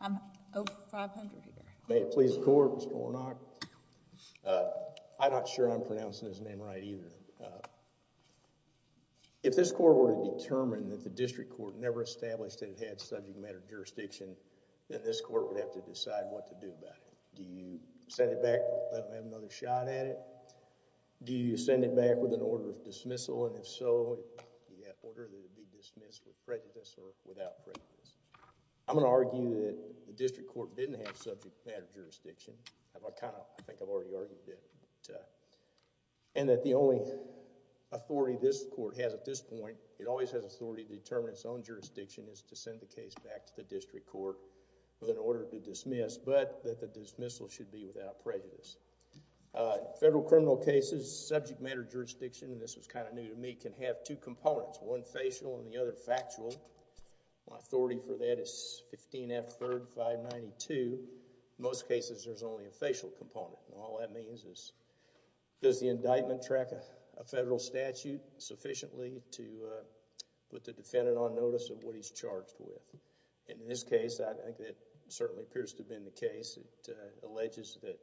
I'm over 500 here. May it please the court Mr. Warnock. I'm not sure I'm pronouncing his name right either. If this court were to determine that the district court never established that it had subject matter jurisdiction, then this court would have to decide what to do about it. Do you send it back with another shot at it? Do you send it back with an order of dismissal? And if so, would that order be dismissed with prejudice or without prejudice? I'm going to argue that the district court didn't have subject matter jurisdiction. I think I've already argued that. And that the only authority this court has at this point, it always has authority to determine its own jurisdiction, is to send the case back to the district court with an order to dismiss, but that the dismissal should be without prejudice. Federal criminal cases, subject matter jurisdiction, and this was kind of new to me, can have two components, one facial and the other factual. Authority for that is 15 F 3rd 592. In most cases, there's only a facial component. And all that means is, does the indictment track a federal statute sufficiently to put the defendant on notice of what he's charged with? In this case, I think that certainly appears to have been the case. It alleges that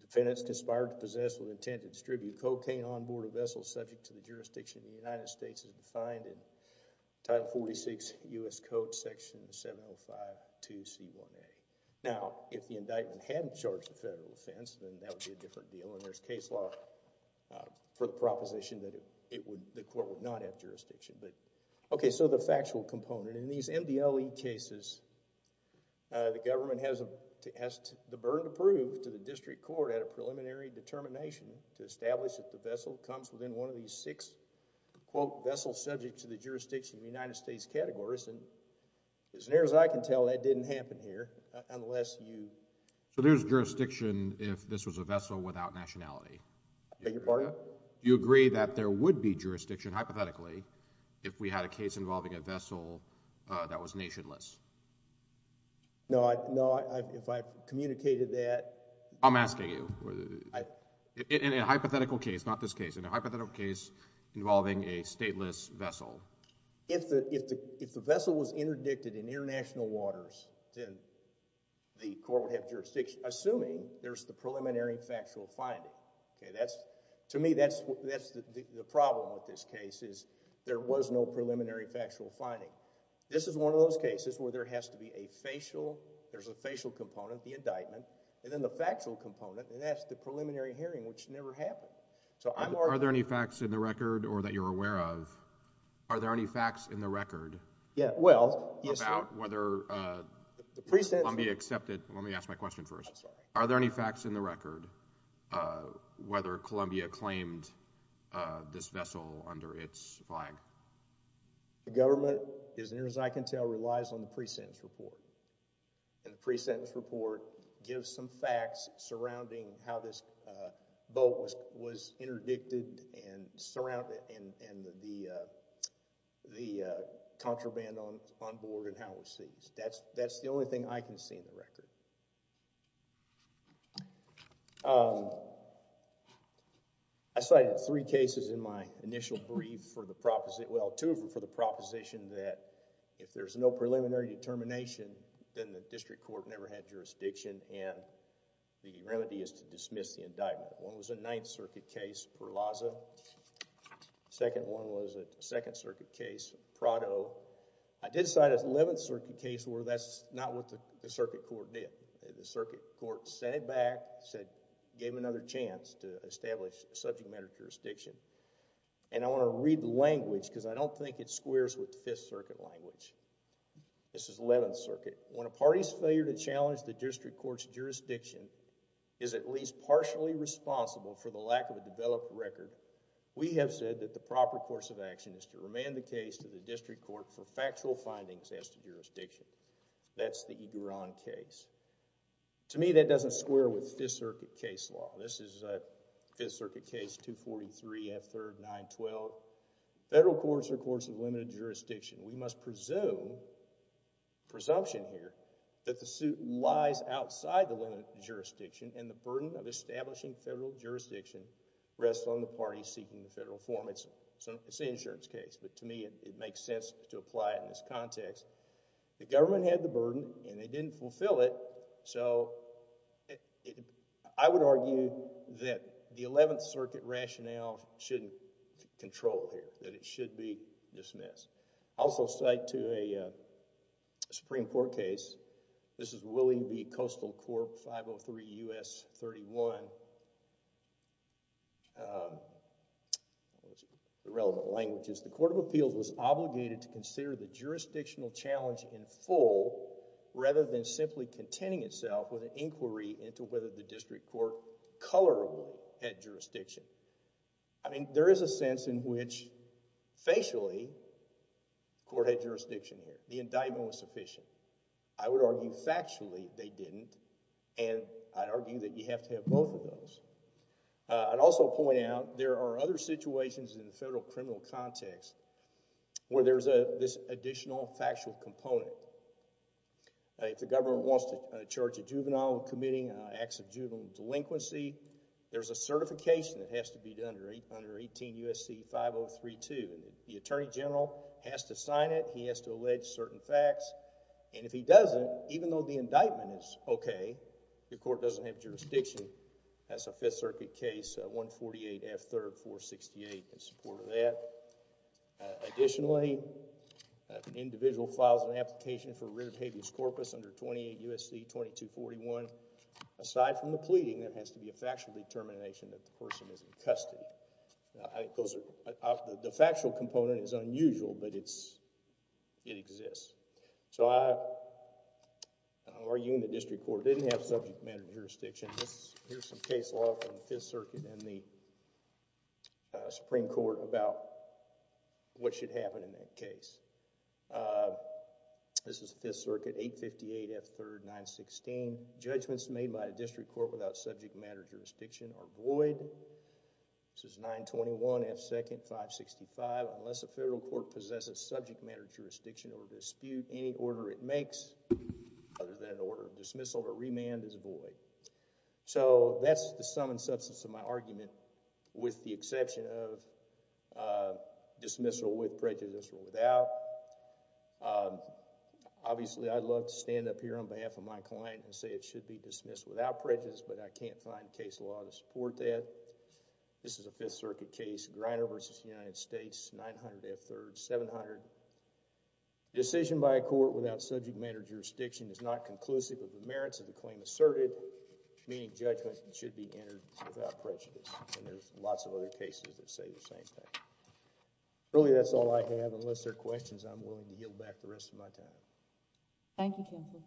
defendants conspired to distribute cocaine on board a vessel subject to the jurisdiction of the United States as defined in Title 46 U.S. Code Section 705-2C1A. Now, if the indictment hadn't charged a federal offense, then that would be a different deal. And there's case law for the proposition that the court would not have jurisdiction. Okay, so the factual component. In these MDLE cases, the government has the burden to prove to the district court at a preliminary determination to establish if the vessel comes within one of these six, quote, vessels subject to the jurisdiction of the United States categories. And as near as I can tell, that didn't happen here, unless you... So there's jurisdiction if this was a vessel without nationality? Beg your pardon? Do you agree that there would be jurisdiction, hypothetically, if we had a case involving a vessel that was nationless? No, I... No, I... If I've communicated that... I'm asking you. In a hypothetical case, not this case. In a hypothetical case involving a stateless vessel. If the vessel was interdicted in international waters, then the court would have jurisdiction, assuming there's the preliminary factual finding. Okay, that's... To me, that's the problem with this case is there was no preliminary factual finding. This is one of those cases where there has to be a facial... there's a facial component, the indictment, and then the factual component, and that's the preliminary hearing, which never happened. So I'm arguing... Are there any facts in the record or that you're aware of? Are there any facts in the record? Yeah, well... About whether Columbia accepted... Let me ask my question first. I'm sorry. Are there any facts in the record whether Columbia claimed this vessel under its flag? The government, as near as I can tell, relies on the pre-sentence report. And the pre-sentence report gives some facts surrounding how this boat was interdicted and surrounded and the contraband on board and how it was seized. That's the only thing I can see in the records. Okay, so what was the prosecution's determination? Well, two of them for the proposition that if there's no preliminary determination, then the district court never had jurisdiction and the remedy is to dismiss the indictment. One was a Ninth Circuit case, Verlazza. Second one was a Second Circuit case, Prado. I did decide as Eleventh Circuit case where that's not what the circuit court sent it back, gave another chance to establish subject matter jurisdiction. I want to read the language because I don't think it squares with Fifth Circuit language. This is Eleventh Circuit. When a party's failure to challenge the district court's jurisdiction is at least partially responsible for the lack of a developed record, we have said that the proper course of action is to remand the case to the district court for factual findings as to jurisdiction. That's the Egueron case. To me, that doesn't square with Fifth Circuit case law. This is Fifth Circuit case 243, F-3rd, 912. Federal courts are courts of limited jurisdiction. We must presume, presumption here, that the suit lies outside the limited jurisdiction and the burden of establishing federal jurisdiction rests on the party seeking the federal form. It's an insurance case, but to me, it makes sense to apply it in this context. The government had the burden and they didn't fulfill it, so I would argue that the Eleventh Circuit rationale shouldn't control it, that it should be dismissed. I also cite to a Supreme Court case. This is Willie v. Coastal Corp. 503 U.S. 31. The relevant language is the Court of Appeals was obligated to consider the jurisdictional challenge in full rather than simply contending itself with an inquiry into whether the district court colorably had jurisdiction. I mean, there is a sense in which, facially, the court had jurisdiction here. The indictment was sufficient. I would argue factually they didn't and I'd argue that you have to have both of those. I'd also point out there are other situations in the criminal context where there's this additional factual component. If the government wants to charge a juvenile of committing acts of juvenile delinquency, there's a certification that has to be done under 18 U.S.C. 5032. The Attorney General has to sign it. He has to allege certain facts and if he doesn't, even though the indictment is okay, the court doesn't have that. Additionally, an individual files an application for writ of habeas corpus under 28 U.S.C. 2241. Aside from the pleading, there has to be a factual determination that the person is in custody. The factual component is unusual but it exists. I'm arguing the district court didn't have subject matter jurisdiction. Here's some case law from the Fifth Circuit and the case law, what should happen in that case. This is Fifth Circuit, 858 F. 3rd, 916. Judgments made by a district court without subject matter jurisdiction are void. This is 921 F. 2nd, 565. Unless a federal court possesses subject matter jurisdiction or dispute, any order it makes other than an order of dismissal or remand is void. That's the sum and substance of my argument with the exception of dismissal with prejudice or without. Obviously, I'd love to stand up here on behalf of my client and say it should be dismissed without prejudice but I can't find case law to support that. This is a Fifth Circuit case, Griner v. United States, 900 F. 3rd, 700. Decision by a court without subject matter jurisdiction is not conclusive of the merits of the claim asserted, meaning judgment should be entered without prejudice. There's lots of other cases that say the same thing. Really, that's all I have. Unless there are questions, I'm willing to yield back the rest of my time. Thank you, counsel.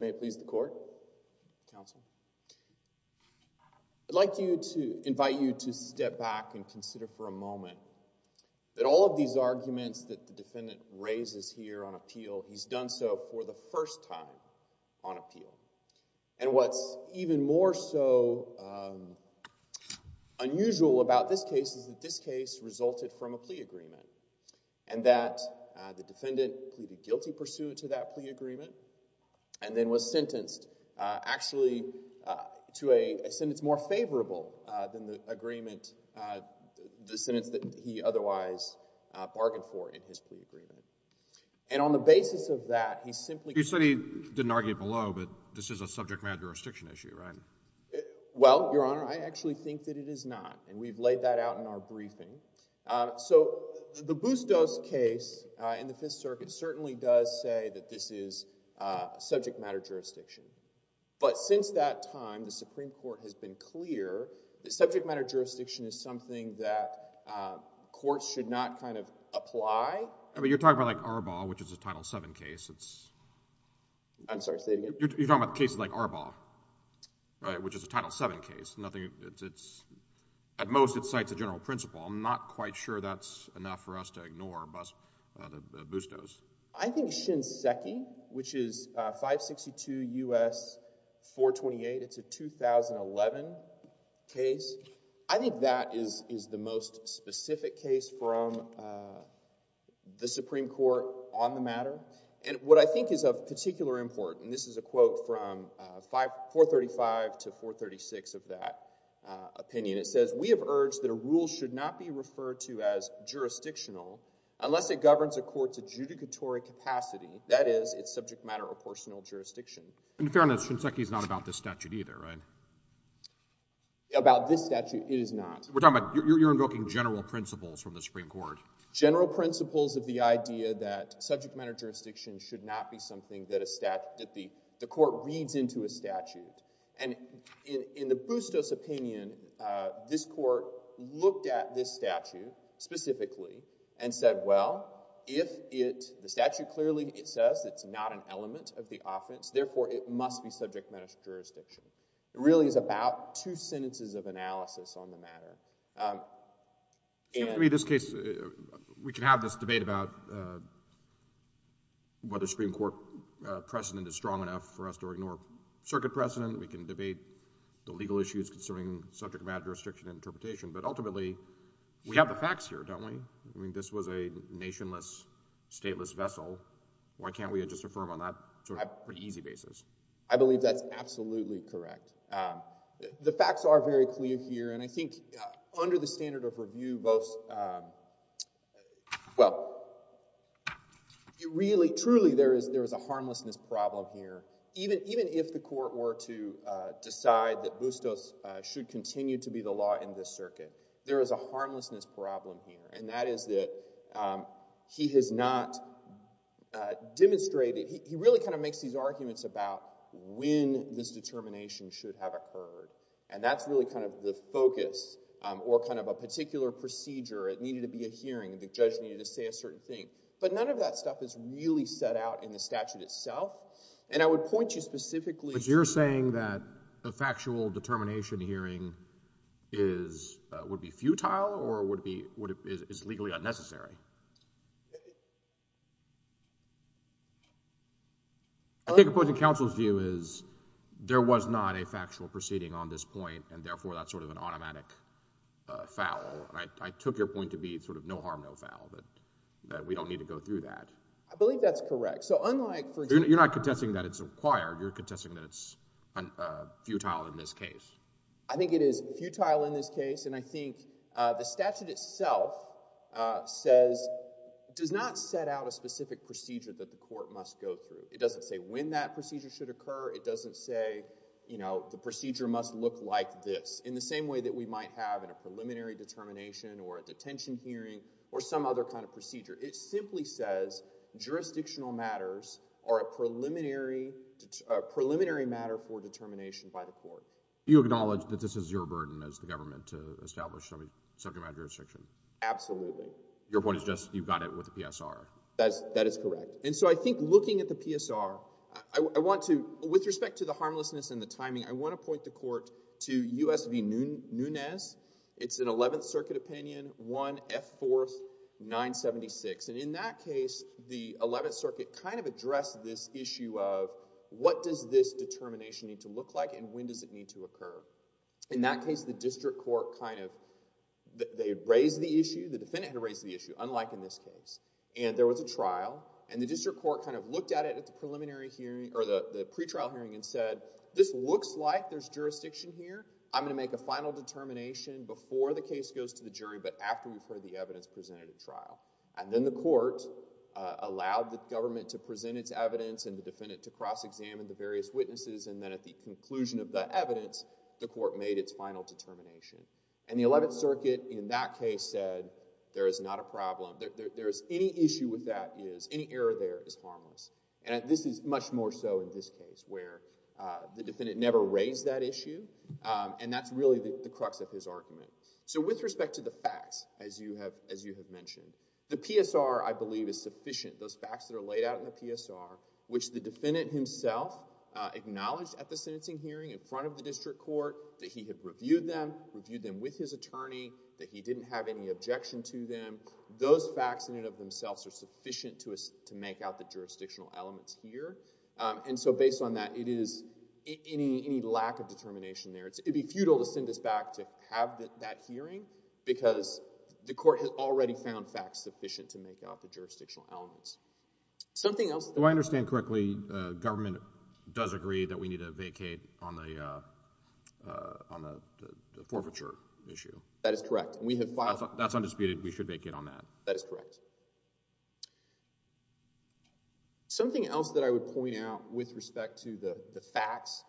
May it please the court, counsel. I'd like to invite you to step back and consider for a moment that all of these arguments that the defendant raises here on appeal, he's done so for the first time on appeal. And what's even more so unusual about this case is that this case resulted from a plea agreement and that the defendant pleaded guilty pursuant to that plea agreement and then was sentenced actually to a sentence more favorable than the agreement, the bargain for in his plea agreement. And on the basis of that, he simply... You said he didn't argue below, but this is a subject matter jurisdiction issue, right? Well, your honor, I actually think that it is not. And we've laid that out in our briefing. So the Bustos case in the Fifth Circuit certainly does say that this is subject matter jurisdiction. But since that time, the Supreme Court has been clear that subject matter jurisdiction is something that courts should not kind of apply. But you're talking about like Arbaugh, which is a Title VII case. I'm sorry, say it again. You're talking about cases like Arbaugh, which is a Title VII case. At most, it cites a general principle. I'm not quite sure that's enough for us to ignore the Bustos. I think Shinseki, which is 562 U.S. 428, it's a 2011 case. I think that is the most specific case from the Supreme Court on the matter. And what I think is of particular import, and this is a quote from 435 to 436 of that opinion, it says, we have urged that a rule should not be referred to as that is its subject matter or personal jurisdiction. And to be fair on this, Shinseki is not about this statute either, right? About this statute, it is not. We're talking about you're invoking general principles from the Supreme Court. General principles of the idea that subject matter jurisdiction should not be something that the court reads into a statute. And in the Bustos opinion, this statute clearly, it says it's not an element of the offense. Therefore, it must be subject matter jurisdiction. It really is about two sentences of analysis on the matter. In this case, we can have this debate about whether Supreme Court precedent is strong enough for us to ignore circuit precedent. We can debate the legal issues concerning subject matter jurisdiction interpretation. But ultimately, we have the facts here, don't we? I mean, this was a nationless, stateless vessel. Why can't we just affirm on that sort of pretty easy basis? I believe that's absolutely correct. The facts are very clear here. And I think under the standard of review, both, well, it really, truly, there is a harmlessness problem here. Even if the court were to decide that Bustos should continue to be the law in this circuit, there is a harmlessness problem here. And that is that he has not demonstrated, he really kind of makes these arguments about when this determination should have occurred. And that's really kind of the focus or kind of a particular procedure. It needed to be a hearing. The judge needed to say a certain thing. But none of that stuff is really set out in the statute itself. And I would point you specifically to— But you're saying that a factual determination hearing is, would be legally unnecessary. I think opposing counsel's view is there was not a factual proceeding on this point, and therefore that's sort of an automatic foul. And I took your point to be sort of no harm, no foul, that we don't need to go through that. I believe that's correct. So unlike— You're not contesting that it's acquired. You're contesting that it's futile in this case. I think it is futile in this case. And I think the statute itself says, does not set out a specific procedure that the court must go through. It doesn't say when that procedure should occur. It doesn't say, you know, the procedure must look like this, in the same way that we might have in a preliminary determination or a detention hearing or some other kind of procedure. It simply says jurisdictional matters are a preliminary matter for determination by the court. You acknowledge that this is your burden as the government to establish subject matter jurisdiction? Absolutely. Your point is just you've got it with the PSR. That is correct. And so I think looking at the PSR, I want to, with respect to the harmlessness and the timing, I want to point the court to U.S. v. Nunes. It's an 11th Circuit opinion, 1 F. 4th, 976. And in that case, the 11th Circuit kind of addressed this issue of what does this determination need to occur. In that case, the district court kind of, they raised the issue, the defendant had raised the issue, unlike in this case. And there was a trial and the district court kind of looked at it at the preliminary hearing or the pretrial hearing and said, this looks like there's jurisdiction here. I'm going to make a final determination before the case goes to the jury but after we've heard the evidence presented at trial. And then the court allowed the government to present its evidence and the defendant to cross-examine the various witnesses and then at the conclusion of the evidence, the court made its final determination. And the 11th Circuit in that case said, there is not a problem. There's any issue with that is, any error there is harmless. And this is much more so in this case where the defendant never raised that issue and that's really the crux of his argument. So with respect to the facts, as you have mentioned, the PSR, I believe, is sufficient. Those facts that were laid out in the PSR, which the defendant himself acknowledged at the sentencing hearing in front of the district court, that he had reviewed them, reviewed them with his attorney, that he didn't have any objection to them, those facts in and of themselves are sufficient to make out the jurisdictional elements here. And so based on that, it is, any lack of determination there, it'd be futile to send us back to have that hearing because the court has already found facts sufficient to make out the jurisdictional elements. Something else... Do I understand correctly, government does agree that we need to vacate on the forfeiture issue? That is correct. And we have filed... That's undisputed, we should vacate on that. That is correct. Something else that I would point out with respect to the facts,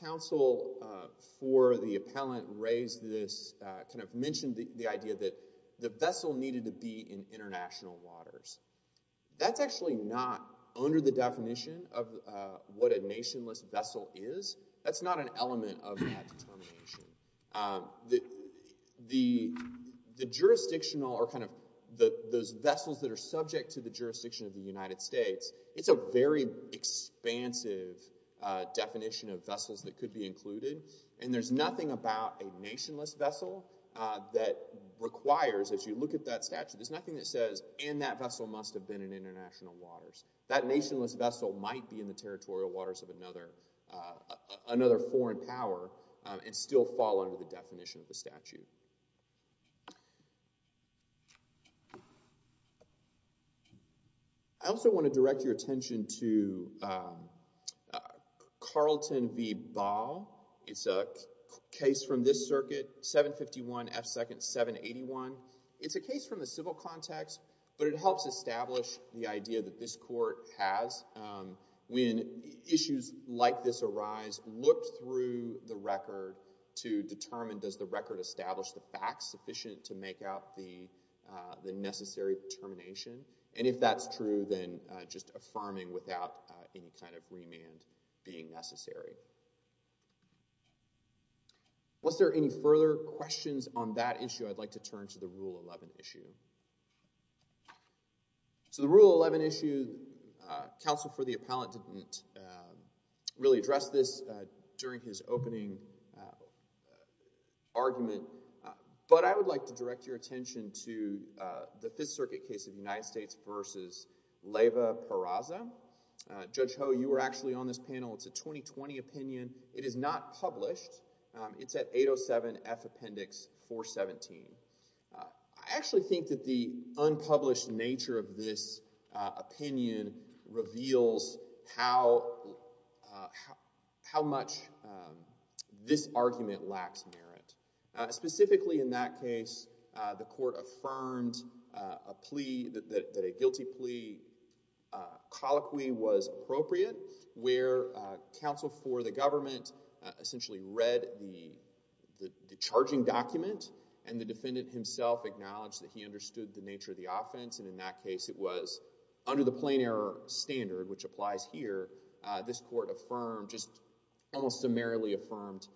counsel for the appellant raised this, kind of mentioned the idea that the vessel needed to be in international waters. That's actually not under the definition of what a nationless vessel is. That's not an element of that determination. The jurisdictional, or kind of those vessels that are subject to the jurisdiction of the United States, it's a very expansive definition of vessels that could be included. And there's nothing about a nationless vessel that requires, as you look at that statute, there's nothing that says, and that vessel must have been in international waters. That nationless vessel might be in the territorial waters of another foreign power and still fall under the definition of the statute. I also want to direct your attention to Carlton v. Ball. It's a case from this case from the civil context, but it helps establish the idea that this court has. When issues like this arise, look through the record to determine, does the record establish the facts sufficient to make out the necessary determination? And if that's true, then just affirming without any kind of remand being necessary. Was there any further questions on that issue? I'd like to turn to the Rule 11 issue. So the Rule 11 issue, counsel for the appellant didn't really address this during his opening argument, but I would like to direct your attention to the Fifth Circuit case of United States v. Leyva-Carraza. Judge Ho, you were actually on this panel. It's a 2020 opinion. It is not published. It's at 807 F Appendix 417. I actually think that the unpublished nature of this opinion reveals how much this argument lacks merit. Specifically in that case, the counsel for the government essentially read the charging document and the defendant himself acknowledged that he understood the nature of the offense, and in that case it was under the plain error standard, which applies here, this court affirmed, just almost summarily affirmed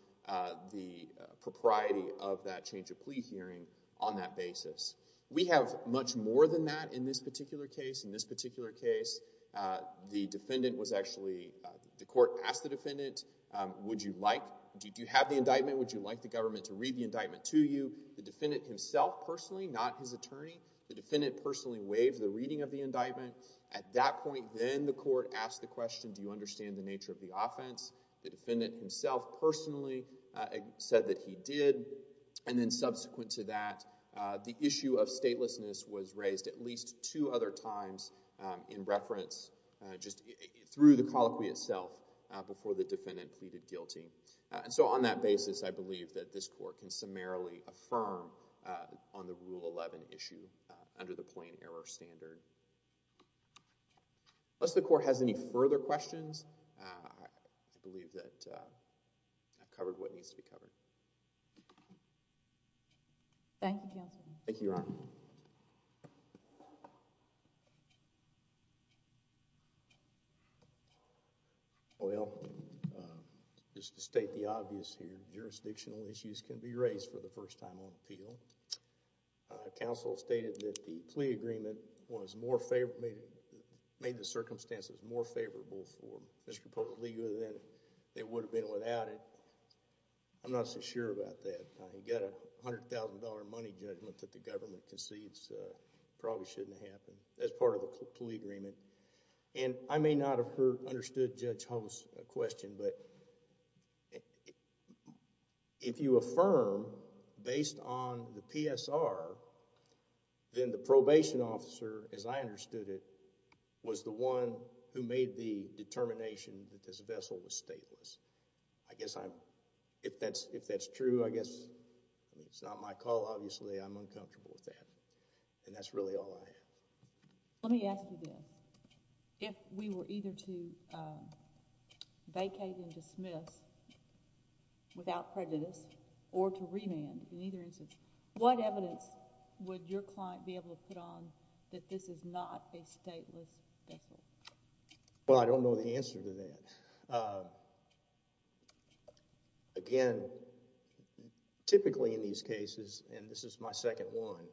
the propriety of that change of plea hearing on that basis. We have much more than that in this particular case. The court asked the defendant, do you have the indictment? Would you like the government to read the indictment to you? The defendant himself personally, not his attorney, the defendant personally waived the reading of the indictment. At that point, then the court asked the question, do you understand the nature of the offense? The defendant himself personally said that he did, and then subsequent to that, the issue of statelessness was referred to other times in reference, just through the colloquy itself, before the defendant pleaded guilty. So on that basis, I believe that this court can summarily affirm on the Rule 11 issue under the plain error standard. Unless the court has any further questions, I believe that I've covered what needs to be covered. Thank you, counsel. Thank you, Your Honor. Well, just to state the obvious here, jurisdictional issues can be raised for the first time on appeal. Counsel stated that the plea agreement was more favorable, made the circumstances more favorable for Mr. Popellego than it would have been without it. I'm not so sure about that. You've got a $100,000 money judgment that the government concedes probably shouldn't happen as part of a plea agreement. I may not have understood Judge Holmes' question, but if you affirm based on the PSR, then the probation officer, as I understood it, was the one who made the determination that this vessel was not a stateless vessel. Well, I don't know the answer to that. Again, typically in these cases, and this is my second one,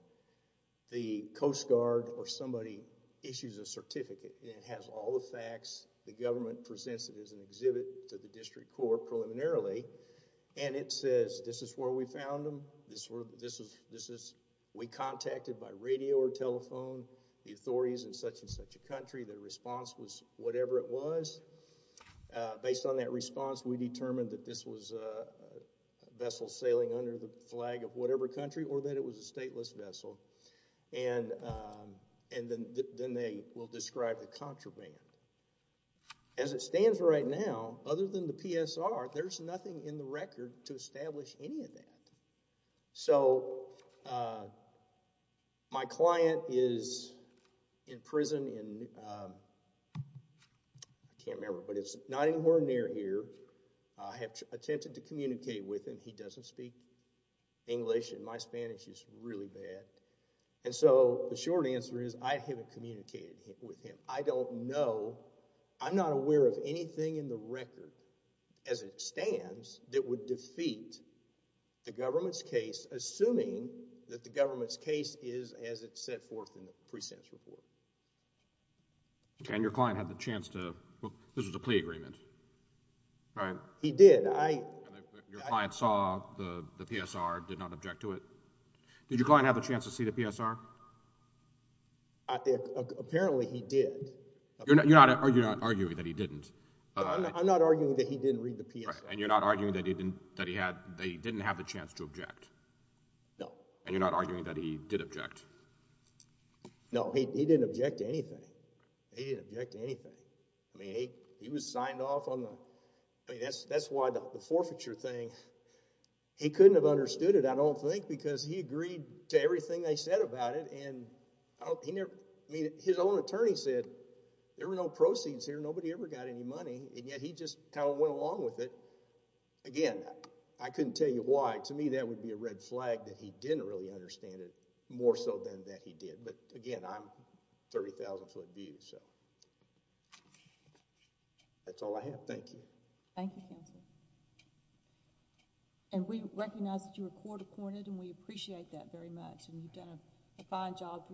the Coast Guard or somebody issues a certificate and it has all the facts. The government presents it as an exhibit to the district court preliminarily and it says, this is where we found them. We contacted by radio or telephone the authorities in such and such a country. The response was whatever it was. Based on that response, we determined that this was a vessel sailing under the flag of whatever country or that it was a stateless vessel. Then they will describe the contraband. As it stands right now, other than the PSR, there's nothing in the record to establish any of that. My client is in prison. I can't remember, but it's not anywhere near here. I have attempted to communicate with him. He doesn't speak English and my Spanish is really bad. The short answer is, I haven't communicated with him. I don't know. I'm not aware of anything in the record as it stands that would defeat the government's case, assuming that the government's case is as it's set forth in the precepts report. Your client had the chance to, this was a plea agreement. He did. Your client saw the PSR, did not object to it. Did your client have a chance to see the PSR? Apparently, he did. You're not arguing that he didn't. I'm not arguing that he didn't read the PSR. You're not arguing that he didn't have the chance to object? No. You're not arguing that he did object? No, he didn't object to anything. He didn't object to anything. He was signed off on the, that's why the forfeiture thing, he couldn't have understood it, I don't think, because he agreed to everything they said about it. His own attorney said there were no proceeds here, nobody ever got any money, and yet he just kind of went along with it. Again, I couldn't tell you why. To me, that would be a red flag that he didn't really understand it, more so than that he did. Again, I'm 30,000 foot view. That's all I have. Thank you. Thank you, counsel. We recognize that you were court-appointed and we appreciate that very much. You've done a fine job for your client. Thank you.